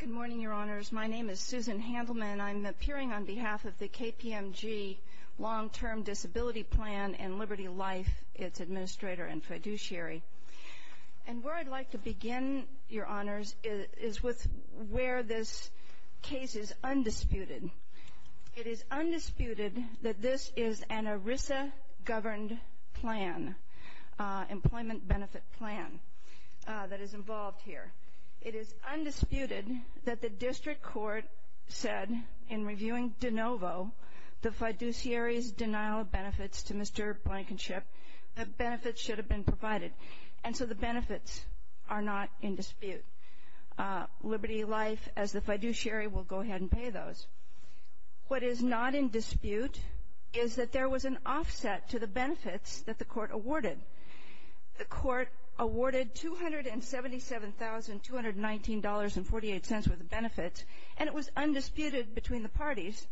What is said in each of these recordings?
Good morning, Your Honors. My name is Susan Handelman and I'm appearing on behalf of the KPMG Long-Term Disability Plan and Liberty Life, its administrator and fiduciary. And where I'd like to begin, Your Honors, is with where this case is undisputed. It is undisputed that this is an ERISA governed plan, employment benefit plan, that is involved here. It is undisputed that the district court said in reviewing de novo the fiduciary's denial of benefits to Mr. Blankenship that benefits should have been provided. And so the benefits are not in dispute. Liberty Life, as the fiduciary, will go ahead and pay those. What is not in dispute is that there was an offset to the benefits that the court awarded. The court awarded $277,219.48 worth of benefits, and it was undisputed between the parties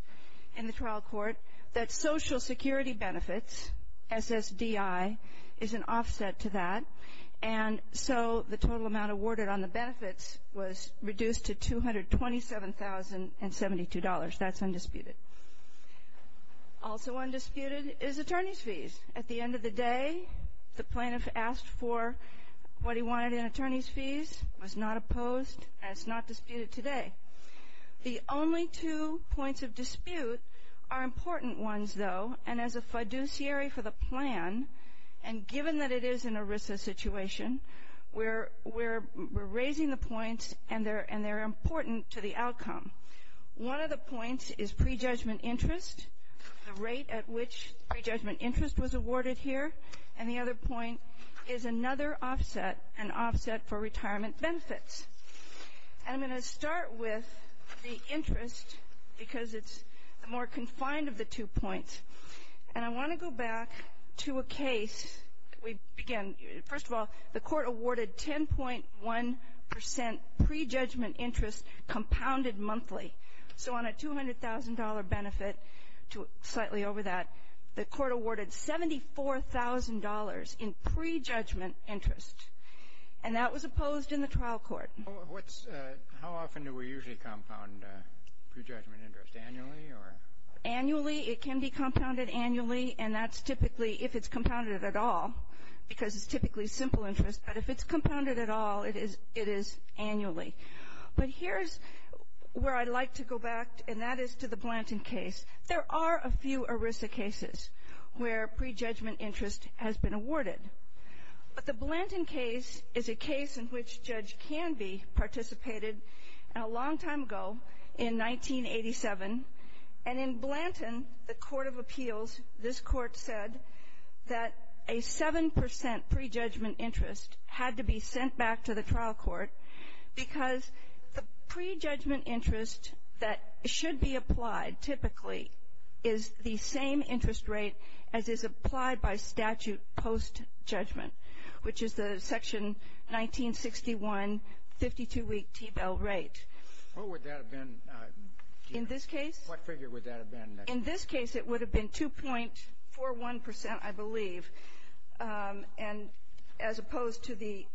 in the trial court that Social Security benefits, SSDI, is an offset to that. And so the total amount awarded on the benefits was reduced to $227,072. That's undisputed. Also undisputed is attorney's fees. At the end of the day, the plaintiff asked for what he wanted in attorney's fees, was not opposed, and it's not disputed today. The only two points of dispute are important ones, though, and as a fiduciary for the plan, and given that it is an ERISA situation, we're raising the points, and they're important to the outcome. One of the points is prejudgment interest, the rate at which prejudgment interest was awarded here, and the other point is another offset, an offset for retirement benefits. And I'm going to start with the interest because it's more confined of the two points. And I want to go back to a case we began. First of all, the Court awarded 10.1 percent prejudgment interest compounded monthly. So on a $200,000 benefit slightly over that, the Court awarded $74,000 in prejudgment interest, and that was opposed in the trial court. How often do we usually compound prejudgment interest? Annually or? Annually. It can be compounded annually, and that's typically if it's compounded at all because it's typically simple interest. But if it's compounded at all, it is annually. But here's where I'd like to go back, and that is to the Blanton case. There are a few ERISA cases where prejudgment interest has been awarded. But the Blanton case is a case in which a judge can be participated in a long time ago in 1987. And in Blanton, the Court of Appeals, this Court said that a 7 percent prejudgment interest had to be sent back to the trial court because the prejudgment interest that should be applied typically is the same interest rate as is applied by statute post-judgment, which is the Section 1961 52-week T-bill rate. What would that have been? In this case? What figure would that have been? In this case, it would have been 2.41 percent, I believe, and as opposed to the,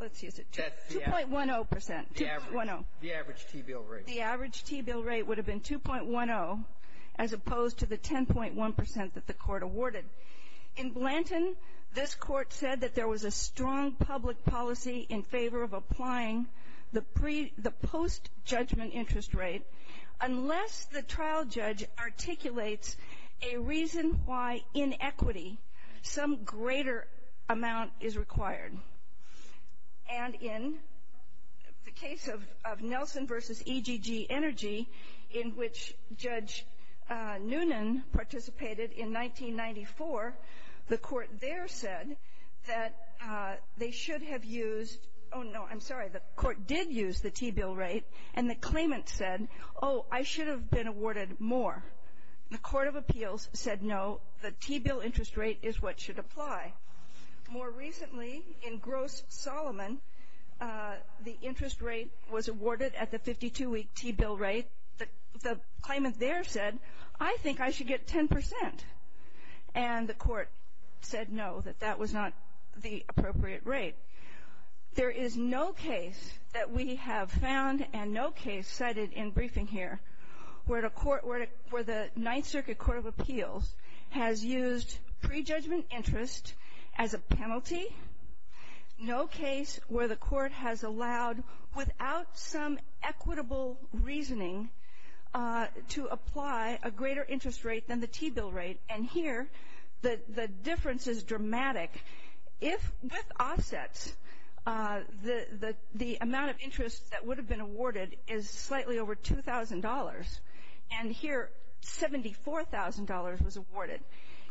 let's use it, 2.10 percent. The average T-bill rate. The average T-bill rate would have been 2.10 as opposed to the 10.1 percent that the Court awarded. In Blanton, this Court said that there was a strong public policy in favor of applying the post-judgment interest rate unless the trial judge articulates a reason why in equity some greater amount is required. And in the case of Nelson v. EGG Energy, in which Judge Noonan participated in 1994, the Court there said that they should have used — oh, no, I'm sorry, the Court did use the T-bill rate, and the claimant said, oh, I should have been awarded more. The Court of Appeals said no, the T-bill interest rate is what should apply. More recently, in Gross-Solomon, the interest rate was awarded at the 52-week T-bill rate. The claimant there said, I think I should get 10 percent, and the Court said no, that that was not the appropriate rate. There is no case that we have found, and no case cited in briefing here, where the Ninth Circuit Court of Appeals has used prejudgment interest as a penalty, no case where the Court has allowed, without some equitable reasoning, to apply a greater interest rate than the T-bill rate. And here, the difference is dramatic. If, with offsets, the amount of interest that would have been awarded is slightly over $2,000, and here $74,000 was awarded.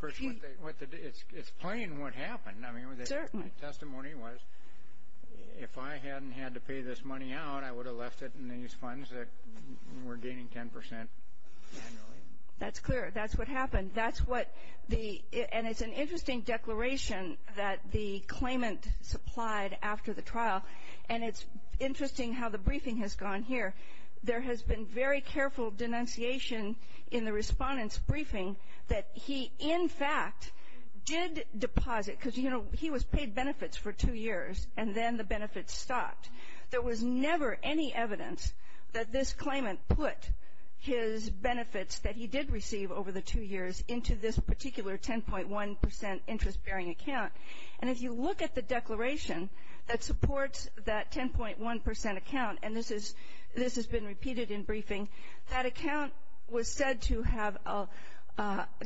It's plain what happened. Certainly. My testimony was, if I hadn't had to pay this money out, I would have left it in these funds that were gaining 10 percent annually. That's clear. That's what happened. That's what the — and it's an interesting declaration that the claimant supplied after the trial, and it's interesting how the briefing has gone here. There has been very careful denunciation in the Respondent's briefing that he, in fact, did deposit, because, you know, he was paid benefits for two years, and then the benefits stopped. There was never any evidence that this claimant put his benefits that he did receive over the two years into this particular 10.1 percent interest-bearing account. And if you look at the declaration that supports that 10.1 percent account, and this has been repeated in briefing, that account was said to have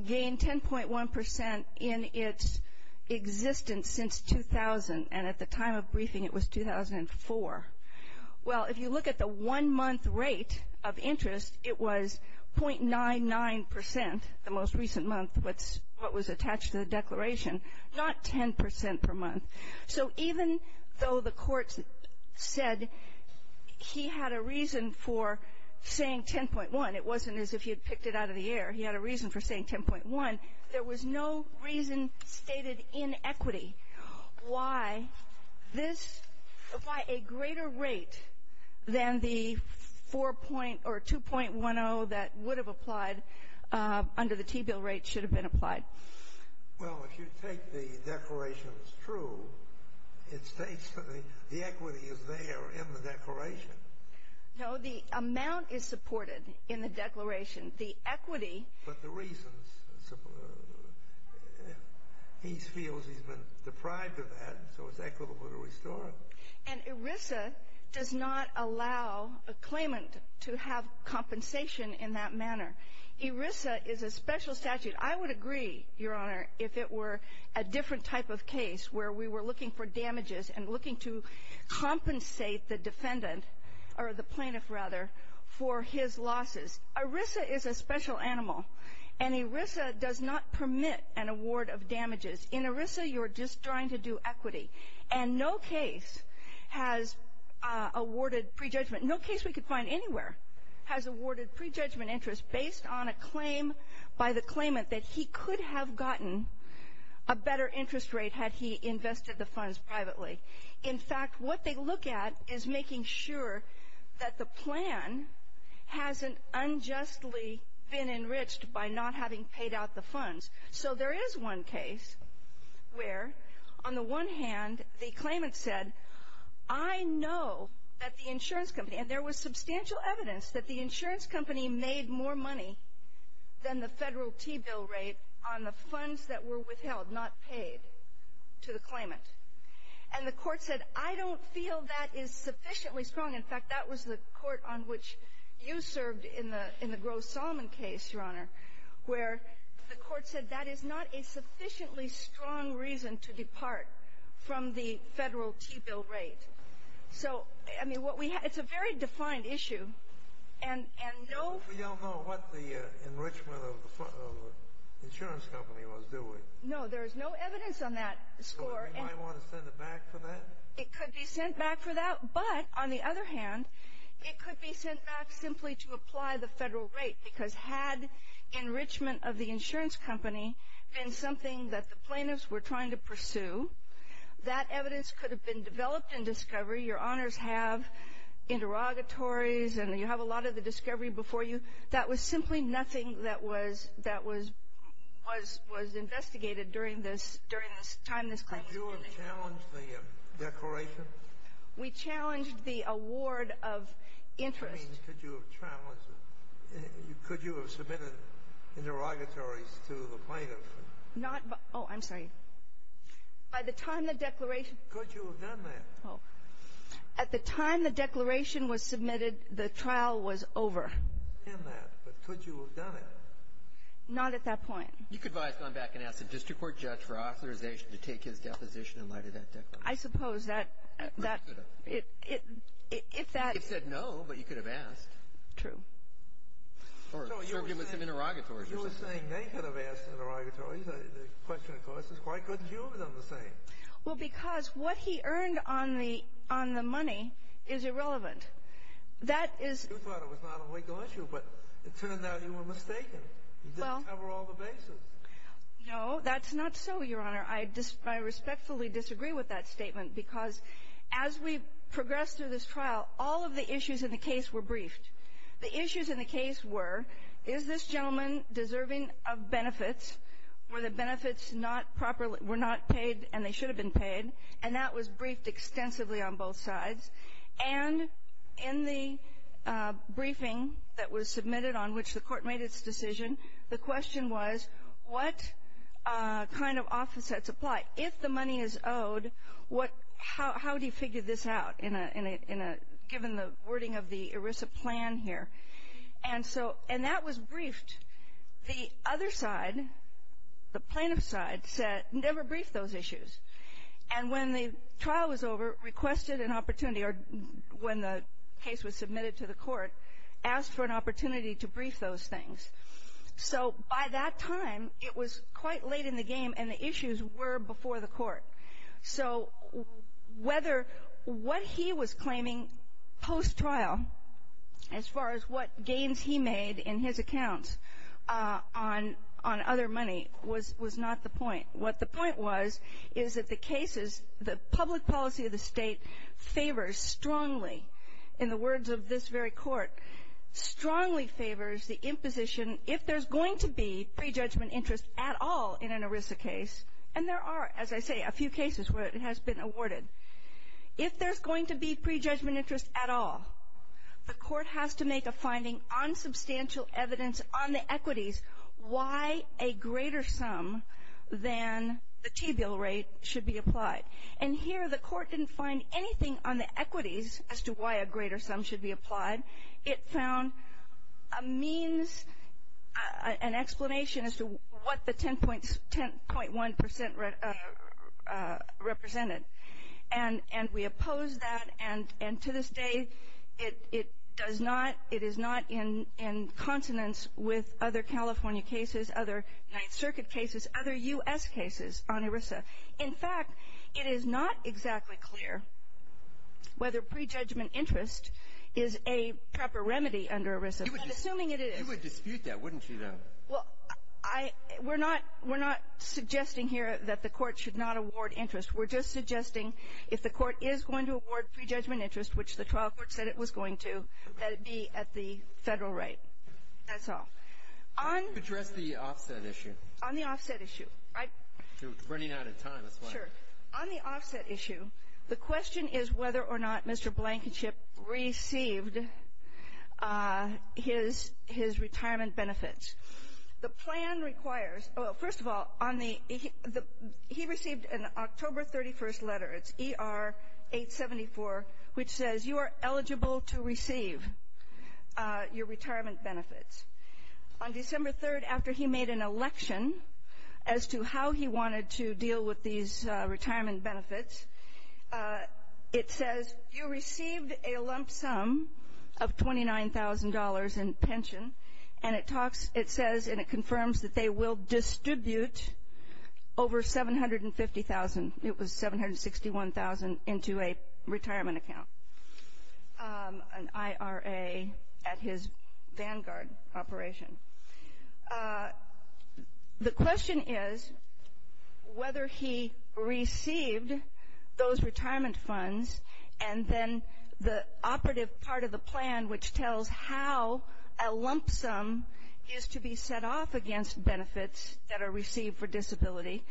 gained 10.1 percent in its existence since 2000, and at the time of briefing it was 2004. Well, if you look at the one-month rate of interest, it was .99 percent the most recent month, what was attached to the declaration, not 10 percent per month. So even though the court said he had a reason for saying 10.1, it wasn't as if he had picked it out of the air. He had a reason for saying 10.1. There was no reason stated in equity why this, why a greater rate than the 4.0 or 2.10 that would have applied under the T-bill rate should have been applied. Well, if you take the declaration as true, it states that the equity is there in the declaration. No, the amount is supported in the declaration. But the reasons, he feels he's been deprived of that, so it's equitable to restore it. And ERISA does not allow a claimant to have compensation in that manner. ERISA is a special statute. I would agree, Your Honor, if it were a different type of case where we were looking for damages and looking to compensate the defendant, or the plaintiff rather, for his losses. ERISA is a special animal, and ERISA does not permit an award of damages. In ERISA, you're just trying to do equity. And no case has awarded prejudgment. No case we could find anywhere has awarded prejudgment interest based on a claim by the claimant that he could have gotten a better interest rate had he invested the funds privately. In fact, what they look at is making sure that the plan hasn't unjustly been enriched by not having paid out the funds. So there is one case where, on the one hand, the claimant said, I know that the insurance company, and there was substantial evidence that the insurance company made more money than the federal T-bill rate on the funds that were withheld, not paid, to the claimant. And the court said, I don't feel that is sufficiently strong. In fact, that was the court on which you served in the Gross-Solomon case, Your Honor, where the court said that is not a sufficiently strong reason to depart from the federal T-bill rate. So, I mean, what we have – it's a very defined issue, and no – We don't know what the enrichment of the insurance company was, do we? No, there is no evidence on that score. You might want to send it back for that? It could be sent back for that, but, on the other hand, it could be sent back simply to apply the federal rate, because had enrichment of the insurance company been something that the plaintiffs were trying to pursue, that evidence could have been developed in discovery. Your Honors have interrogatories, and you have a lot of the discovery before you. Could you have challenged the declaration? We challenged the award of interest. I mean, could you have challenged it? Could you have submitted interrogatories to the plaintiffs? Not by – oh, I'm sorry. By the time the declaration – Could you have done that? Oh. At the time the declaration was submitted, the trial was over. Could you have done that? But could you have done it? Not at that point. You could have probably gone back and asked the district court judge for authorization to take his deposition in light of that declaration. I suppose that – If that – He said no, but you could have asked. True. Or served him with some interrogatories. You were saying they could have asked interrogatories. The question, of course, is why couldn't you have done the same? Well, because what he earned on the money is irrelevant. That is – You thought it was not a legal issue, but it turned out you were mistaken. You didn't cover all the bases. No, that's not so, Your Honor. I respectfully disagree with that statement because as we progressed through this trial, all of the issues in the case were briefed. The issues in the case were, is this gentleman deserving of benefits? Were the benefits not properly – were not paid and they should have been paid? And that was briefed extensively on both sides. And in the briefing that was submitted on which the court made its decision, the question was what kind of office sets apply? If the money is owed, how do you figure this out given the wording of the ERISA plan here? And that was briefed. The other side, the plaintiff's side, never briefed those issues. And when the trial was over, requested an opportunity, or when the case was submitted to the court, asked for an opportunity to brief those things. So by that time, it was quite late in the game and the issues were before the court. So whether – what he was claiming post-trial, as far as what gains he made in his accounts on other money, was not the point. What the point was is that the cases, the public policy of the state favors strongly, in the words of this very court, strongly favors the imposition, if there's going to be prejudgment interest at all in an ERISA case, and there are, as I say, a few cases where it has been awarded. If there's going to be prejudgment interest at all, the court has to make a finding on substantial evidence on the equities, why a greater sum than the T-bill rate should be applied. And here the court didn't find anything on the equities as to why a greater sum should be applied. It found a means, an explanation as to what the 10.1 percent represented. And we oppose that, and to this day it does not – it is not in consonance with other California cases, other Ninth Circuit cases, other U.S. cases on ERISA. In fact, it is not exactly clear whether prejudgment interest is a proper remedy under ERISA. I'm assuming it is. You would dispute that, wouldn't you, though? Well, I – we're not – we're not suggesting here that the court should not award interest. We're just suggesting if the court is going to award prejudgment interest, which the trial court said it was going to, that it be at the federal rate. That's all. How do you address the offset issue? On the offset issue, I – You're running out of time. Sure. On the offset issue, the question is whether or not Mr. Blankenship received his retirement benefits. The plan requires – well, first of all, on the – he received an October 31st letter. It's ER-874, which says you are eligible to receive your retirement benefits. On December 3rd, after he made an election as to how he wanted to deal with these retirement benefits, it says you received a lump sum of $29,000 in pension, and it talks – it says and it confirms that they will distribute over $750,000 – it was $761,000 into a retirement account, an IRA at his Vanguard operation. The question is whether he received those retirement funds, and then the operative part of the plan, which tells how a lump sum is to be set off against benefits that are received for disability.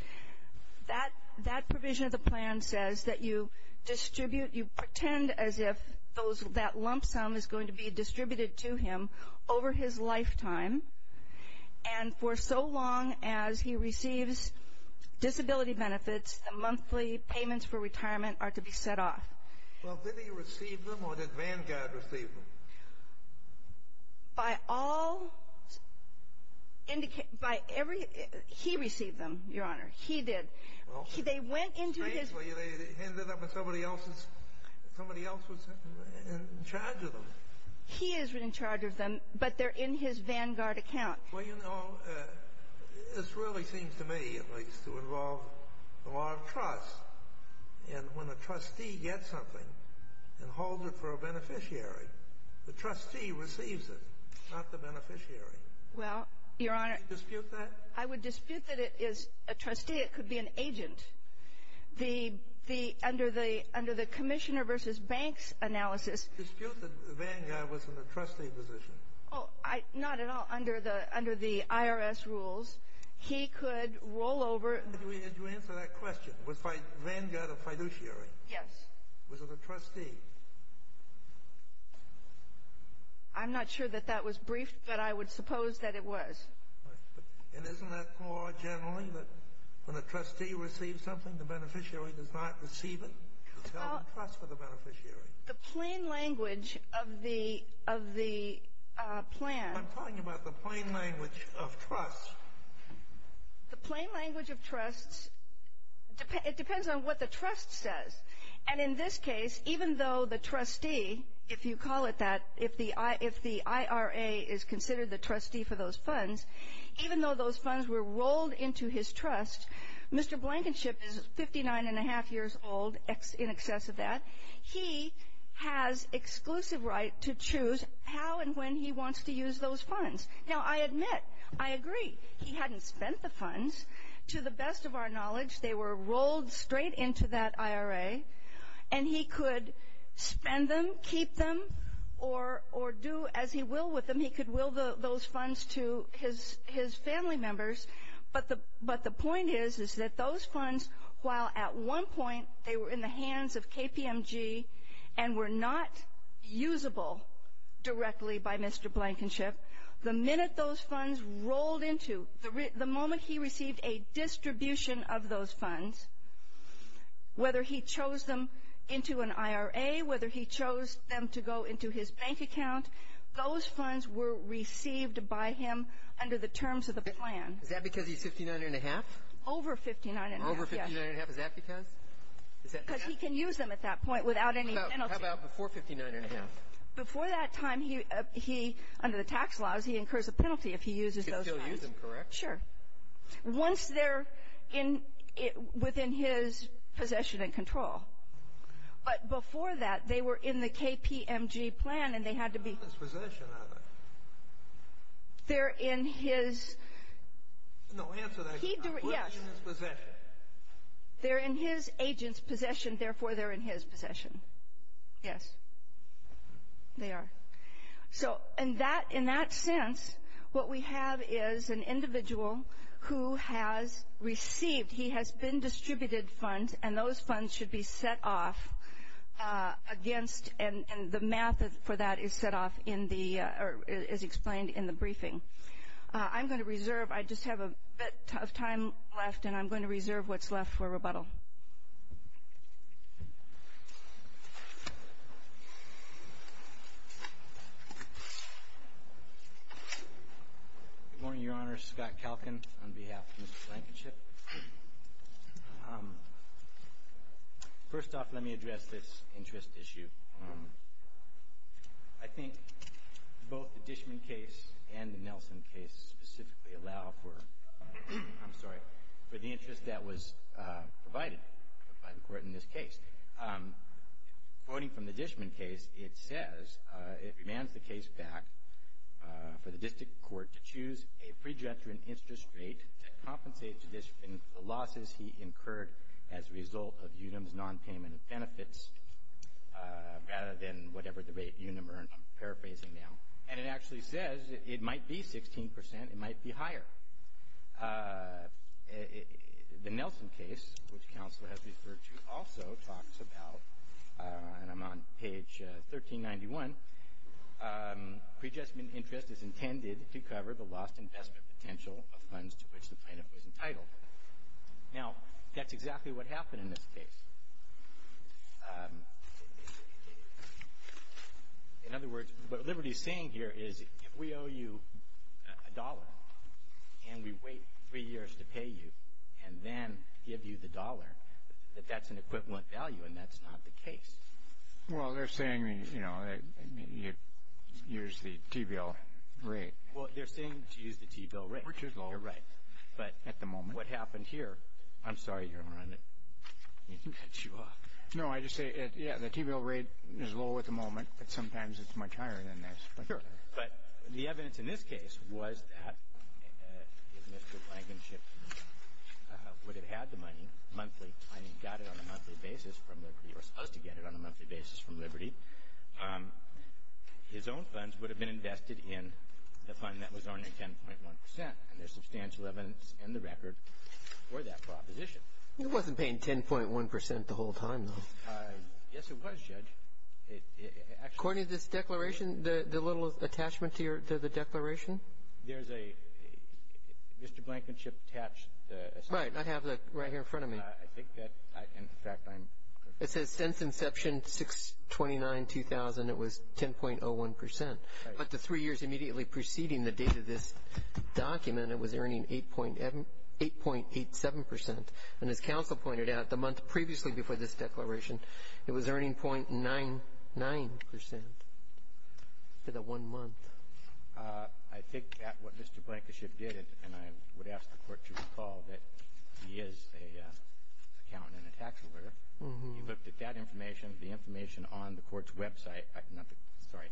That provision of the plan says that you distribute – you pretend as if those – that lump sum is going to be distributed to him over his lifetime, and for so long as he receives disability benefits, the monthly payments for retirement are to be set off. Well, did he receive them, or did Vanguard receive them? By all – by every – he received them, Your Honor. He did. Well, strangely, they ended up with somebody else's – somebody else was in charge of them. He is in charge of them, but they're in his Vanguard account. Well, you know, this really seems to me, at least, to involve the law of trust, and when a trustee gets something and holds it for a beneficiary, the trustee receives it, not the beneficiary. Well, Your Honor – Would you dispute that? I would dispute that it is a trustee. It could be an agent. The – under the Commissioner v. Banks analysis – Dispute that Vanguard was in a trustee position. Oh, not at all. Under the IRS rules, he could roll over – Did you answer that question? Was Vanguard a fiduciary? Yes. Was it a trustee? I'm not sure that that was briefed, but I would suppose that it was. And isn't that law, generally, that when a trustee receives something, the beneficiary does not receive it? It's held in trust for the beneficiary. The plain language of the – of the plan – I'm talking about the plain language of trust. The plain language of trust – it depends on what the trust says. And in this case, even though the trustee, if you call it that, if the IRA is considered the trustee for those funds, even though those funds were rolled into his trust, Mr. Blankenship is 59-and-a-half years old in excess of that. He has exclusive right to choose how and when he wants to use those funds. Now, I admit, I agree, he hadn't spent the funds. To the best of our knowledge, they were rolled straight into that IRA, and he could spend them, keep them, or do as he will with them. He could will those funds to his family members. But the point is, is that those funds, while at one point they were in the hands of KPMG and were not usable directly by Mr. Blankenship, the minute those funds rolled into – the moment he received a distribution of those funds, whether he chose them into an IRA, whether he chose them to go into his bank account, those funds were received by him under the terms of the plan. Is that because he's 59-and-a-half? Over 59-and-a-half, yes. Over 59-and-a-half, is that because? Because he can use them at that point without any penalty. How about before 59-and-a-half? Before that time, he – under the tax laws, he incurs a penalty if he uses those funds. He can still use them, correct? Sure. Once they're in – within his possession and control. But before that, they were in the KPMG plan, and they had to be – They're not in his possession, are they? They're in his – No, answer that question. He – yes. They're not in his possession. They're in his agent's possession, therefore they're in his possession. Yes, they are. So in that – in that sense, what we have is an individual who has received – he has been distributed funds, and those funds should be set off against – and the math for that is set off in the – or is explained in the briefing. I'm going to reserve – I just have a bit of time left, and I'm going to reserve what's left for rebuttal. Good morning, Your Honor. Scott Kalkin on behalf of Mr. Blankenship. First off, let me address this interest issue. I think both the Dishman case and the Nelson case specifically allow for – I'm sorry – for the interest that was provided by the court in this case. Quoting from the Dishman case, it says – it demands the case back for the district court to choose a pre-judgment interest rate that compensates the losses he incurred as a result of Unum's non-payment of benefits, rather than whatever the rate Unum earned. I'm paraphrasing now. And it actually says it might be 16 percent. It might be higher. The Nelson case, which counsel has referred to, also talks about – and I'm on page 1391 – pre-judgment interest is intended to cover the lost investment potential of funds to which the plaintiff was entitled. Now, that's exactly what happened in this case. In other words, what Liberty is saying here is if we owe you a dollar and we wait three years to pay you and then give you the dollar, that that's an equivalent value, and that's not the case. Well, they're saying, you know, use the T-bill rate. Well, they're saying to use the T-bill rate. We're too low. You're right. At the moment. But what happened here – I'm sorry, Your Honor, I didn't mean to cut you off. No, I just say, yeah, the T-bill rate is low at the moment, but sometimes it's much higher than this. Sure. But the evidence in this case was that if Mr. Blankenship would have had the money monthly and he got it on a monthly basis from Liberty or was supposed to get it on a monthly basis from Liberty, his own funds would have been invested in the fund that was only 10.1 percent. And there's substantial evidence in the record for that proposition. It wasn't paying 10.1 percent the whole time, though. Yes, it was, Judge. According to this declaration, the little attachment to the declaration? There's a Mr. Blankenship attached assignment. Right. I have that right here in front of me. I think that, in fact, I'm – It says since inception 6-29-2000, it was 10.01 percent. Right. But the three years immediately preceding the date of this document, it was earning 8.87 percent. And as counsel pointed out, the month previously before this declaration, it was earning .99 percent for that one month. I think that what Mr. Blankenship did, and I would ask the Court to recall that he is an accountant and a tax auditor, he looked at that information, the information on the Court's website – not the – sorry,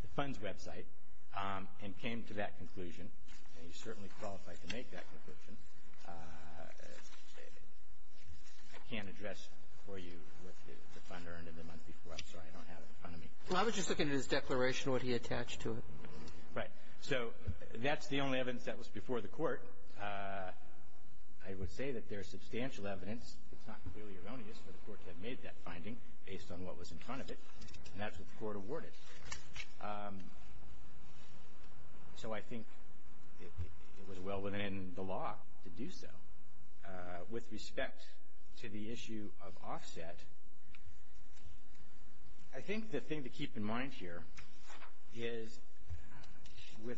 the Fund's website, and came to that conclusion. And he's certainly qualified to make that conclusion. I can't address for you what the Fund earned in the month before. I'm sorry. I don't have it in front of me. Well, I was just looking at his declaration, what he attached to it. Right. So that's the only evidence that was before the Court. I would say that there's substantial evidence. It's not clearly erroneous for the Court to have made that finding based on what was in front of it. And that's what the Court awarded. So I think it was well within the law to do so. With respect to the issue of offset, I think the thing to keep in mind here is, with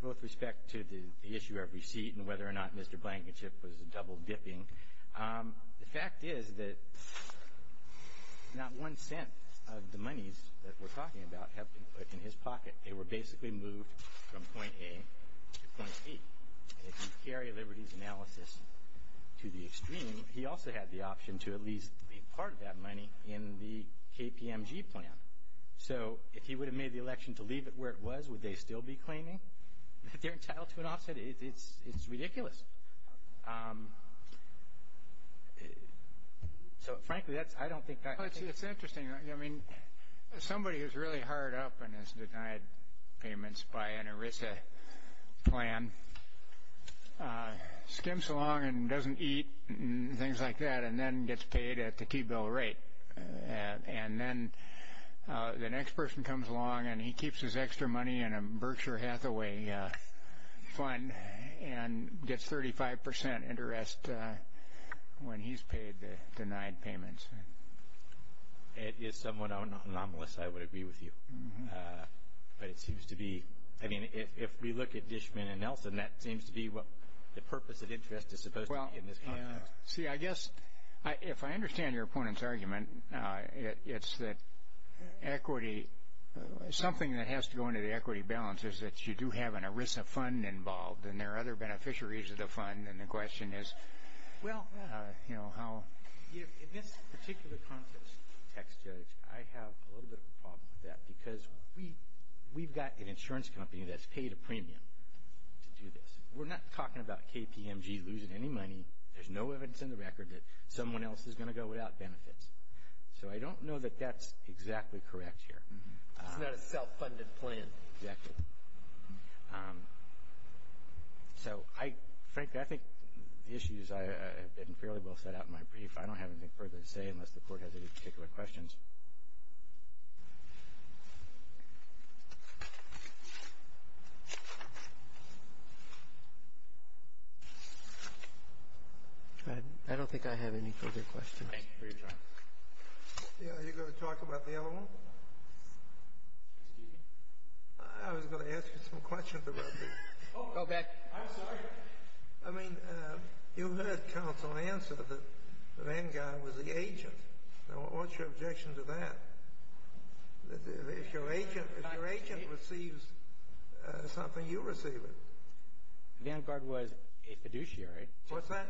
both respect to the issue of receipt and whether or not Mr. Blankenship was double-dipping, the fact is that not one cent of the monies that we're talking about have been put in his pocket. They were basically moved from point A to point B. And if you carry Liberty's analysis to the extreme, he also had the option to at least be part of that money in the KPMG plan. So if he would have made the election to leave it where it was, would they still be claiming that they're entitled to an offset? It's ridiculous. So, frankly, I don't think that's the case. It's interesting. I mean, somebody who's really hard up and has denied payments by an ERISA plan skims along and doesn't eat and things like that and then gets paid at the T-bill rate. And then the next person comes along and he keeps his extra money in a Berkshire Hathaway fund and gets 35 percent interest when he's paid the denied payments. It is somewhat anomalous, I would agree with you. But it seems to be – I mean, if we look at Dishman and Nelson, that seems to be what the purpose of interest is supposed to be in this context. See, I guess if I understand your opponent's argument, it's that equity – something that has to go into the equity balance is that you do have an ERISA fund involved and there are other beneficiaries of the fund. And the question is, well, you know, how – In this particular context, Text Judge, I have a little bit of a problem with that because we've got an insurance company that's paid a premium to do this. We're not talking about KPMG losing any money. There's no evidence in the record that someone else is going to go without benefits. So I don't know that that's exactly correct here. It's not a self-funded plan. Exactly. So I – frankly, I think the issues have been fairly well set out in my brief. I don't have anything further to say unless the Court has any particular questions. I don't think I have any further questions. Thank you for your time. Are you going to talk about the other one? Excuse me? I was going to ask you some questions about this. Go back. I'm sorry. I mean, you heard counsel answer that Vanguard was the agent. Now, what's your objection to that? If your agent receives something, you receive it. Vanguard was a fiduciary. What's that?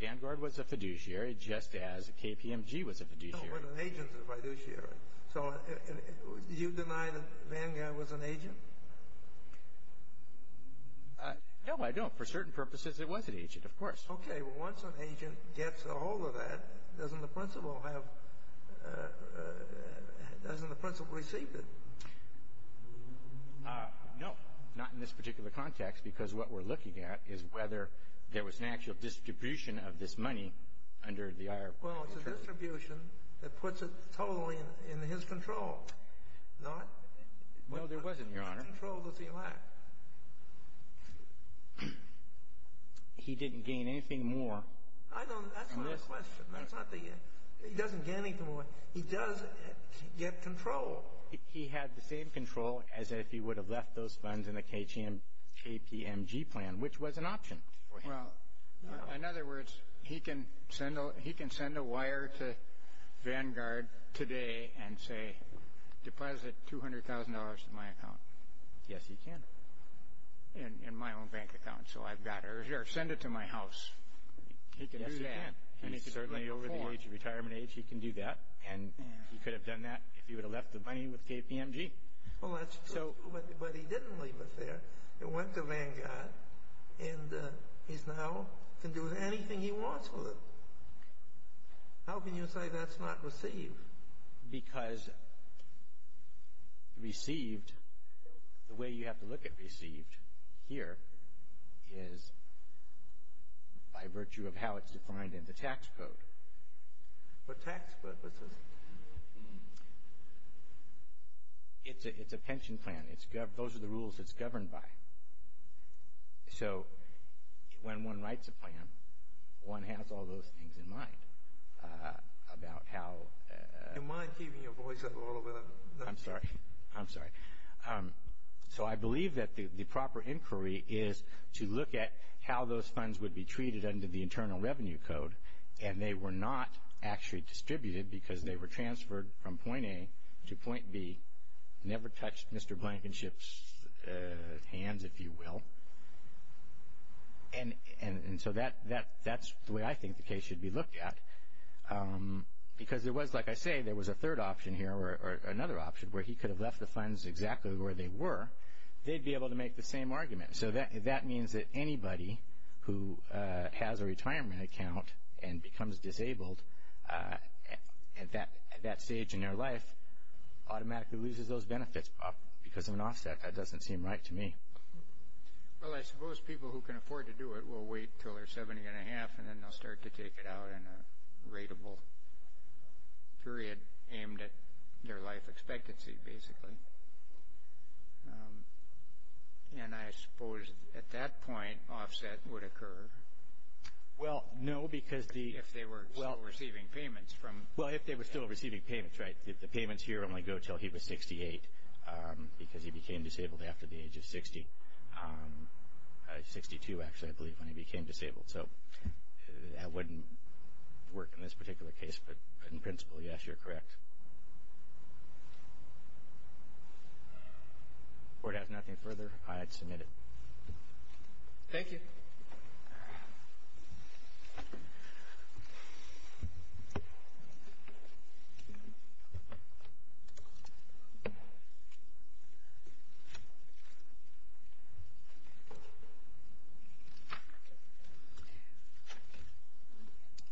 Vanguard was a fiduciary just as KPMG was a fiduciary. No, but an agent's a fiduciary. So you deny that Vanguard was an agent? No, I don't. For certain purposes, it was an agent, of course. Okay. Well, once an agent gets a hold of that, doesn't the principal have – doesn't the principal receive it? No. Not in this particular context because what we're looking at is whether there was an actual distribution of this money under the IRB. Well, it's a distribution that puts it totally in his control, not – No, there wasn't, Your Honor. He had control that he lacked. He didn't gain anything more. I don't – that's my question. That's not the – he doesn't gain anything more. He does get control. He had the same control as if he would have left those funds in the KPMG plan, which was an option for him. Well, in other words, he can send a wire to Vanguard today and say, deposit $200,000 to my account. Yes, he can. In my own bank account. So I've got it. Or send it to my house. He can do that. Yes, he can. And he can certainly, over the age of retirement age, he can do that. And he could have done that if he would have left the money with KPMG. Well, that's true, but he didn't leave it there. It went to Vanguard, and he now can do anything he wants with it. How can you say that's not received? Because received – the way you have to look at received here is by virtue of how it's defined in the tax code. For tax purposes. It's a pension plan. Those are the rules it's governed by. So when one writes a plan, one has all those things in mind about how – Do you mind keeping your voice up a little bit? I'm sorry. I'm sorry. So I believe that the proper inquiry is to look at how those funds would be treated under the Internal Revenue Code, and they were not actually distributed because they were transferred from point A to point B. Never touched Mr. Blankenship's hands, if you will. And so that's the way I think the case should be looked at because there was, like I say, there was a third option here or another option where he could have left the funds exactly where they were. They'd be able to make the same argument. So that means that anybody who has a retirement account and becomes disabled at that stage in their life automatically loses those benefits because of an offset. That doesn't seem right to me. Well, I suppose people who can afford to do it will wait until they're 70 and a half, and then they'll start to take it out in a rateable period aimed at their life expectancy, basically. And I suppose at that point, offset would occur. Well, no, because the – If they were still receiving payments from – Well, if they were still receiving payments, right. The payments here only go until he was 68 because he became disabled after the age of 60. 62, actually, I believe, when he became disabled. So that wouldn't work in this particular case, but in principle, yes, you're correct. If the Board has nothing further, I'd submit it. Thank you.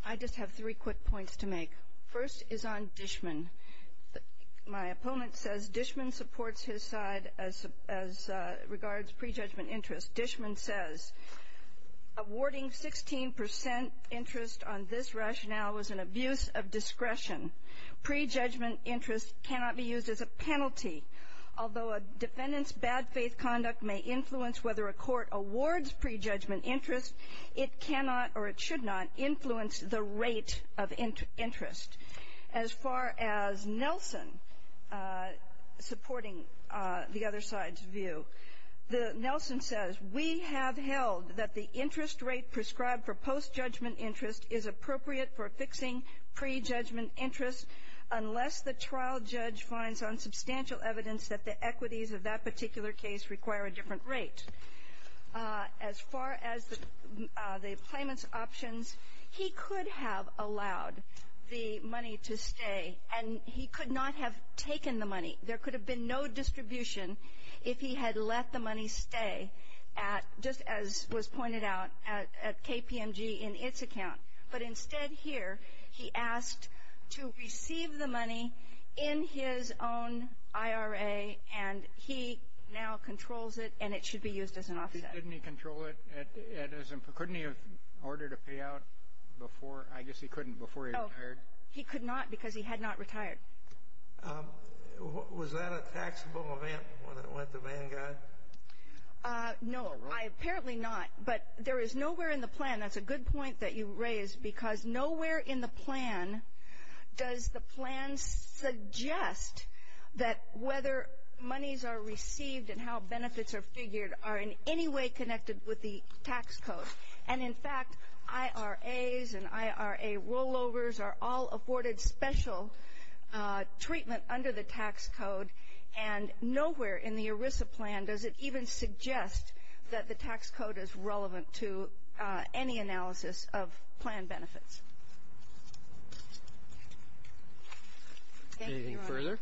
I just have three quick points to make. First is on Dishman. My opponent says Dishman supports his side as regards prejudgment interest. Dishman says, awarding 16 percent interest on this rationale was an abuse of discretion. Prejudgment interest cannot be used as a penalty. Although a defendant's bad faith conduct may influence whether a court awards prejudgment interest, it cannot or it should not influence the rate of interest. As far as Nelson supporting the other side's view, the – Nelson says, we have held that the interest rate prescribed for post-judgment interest is appropriate for fixing prejudgment interest unless the trial judge finds on substantial evidence that the equities of that particular case require a different rate. As far as the claimant's options, he could have allowed the money to stay, and he could not have taken the money. There could have been no distribution if he had let the money stay at – just as was pointed out at KPMG in its account. But instead here, he asked to receive the money in his own IRA, and he now controls it, and it should be used as an offset. Didn't he control it? Couldn't he have ordered a payout before – I guess he couldn't before he retired. He could not because he had not retired. Was that a taxable event when it went to Vanguard? No. Apparently not. But there is nowhere in the plan – and that's a good point that you raise because nowhere in the plan does the plan suggest that whether monies are received and how benefits are figured are in any way connected with the tax code. And, in fact, IRAs and IRA rollovers are all afforded special treatment under the tax code, and nowhere in the ERISA plan does it even suggest that the tax code is relevant to any analysis of plan benefits. Anything further?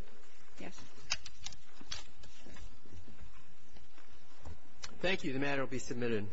Yes. Thank you. The matter will be submitted.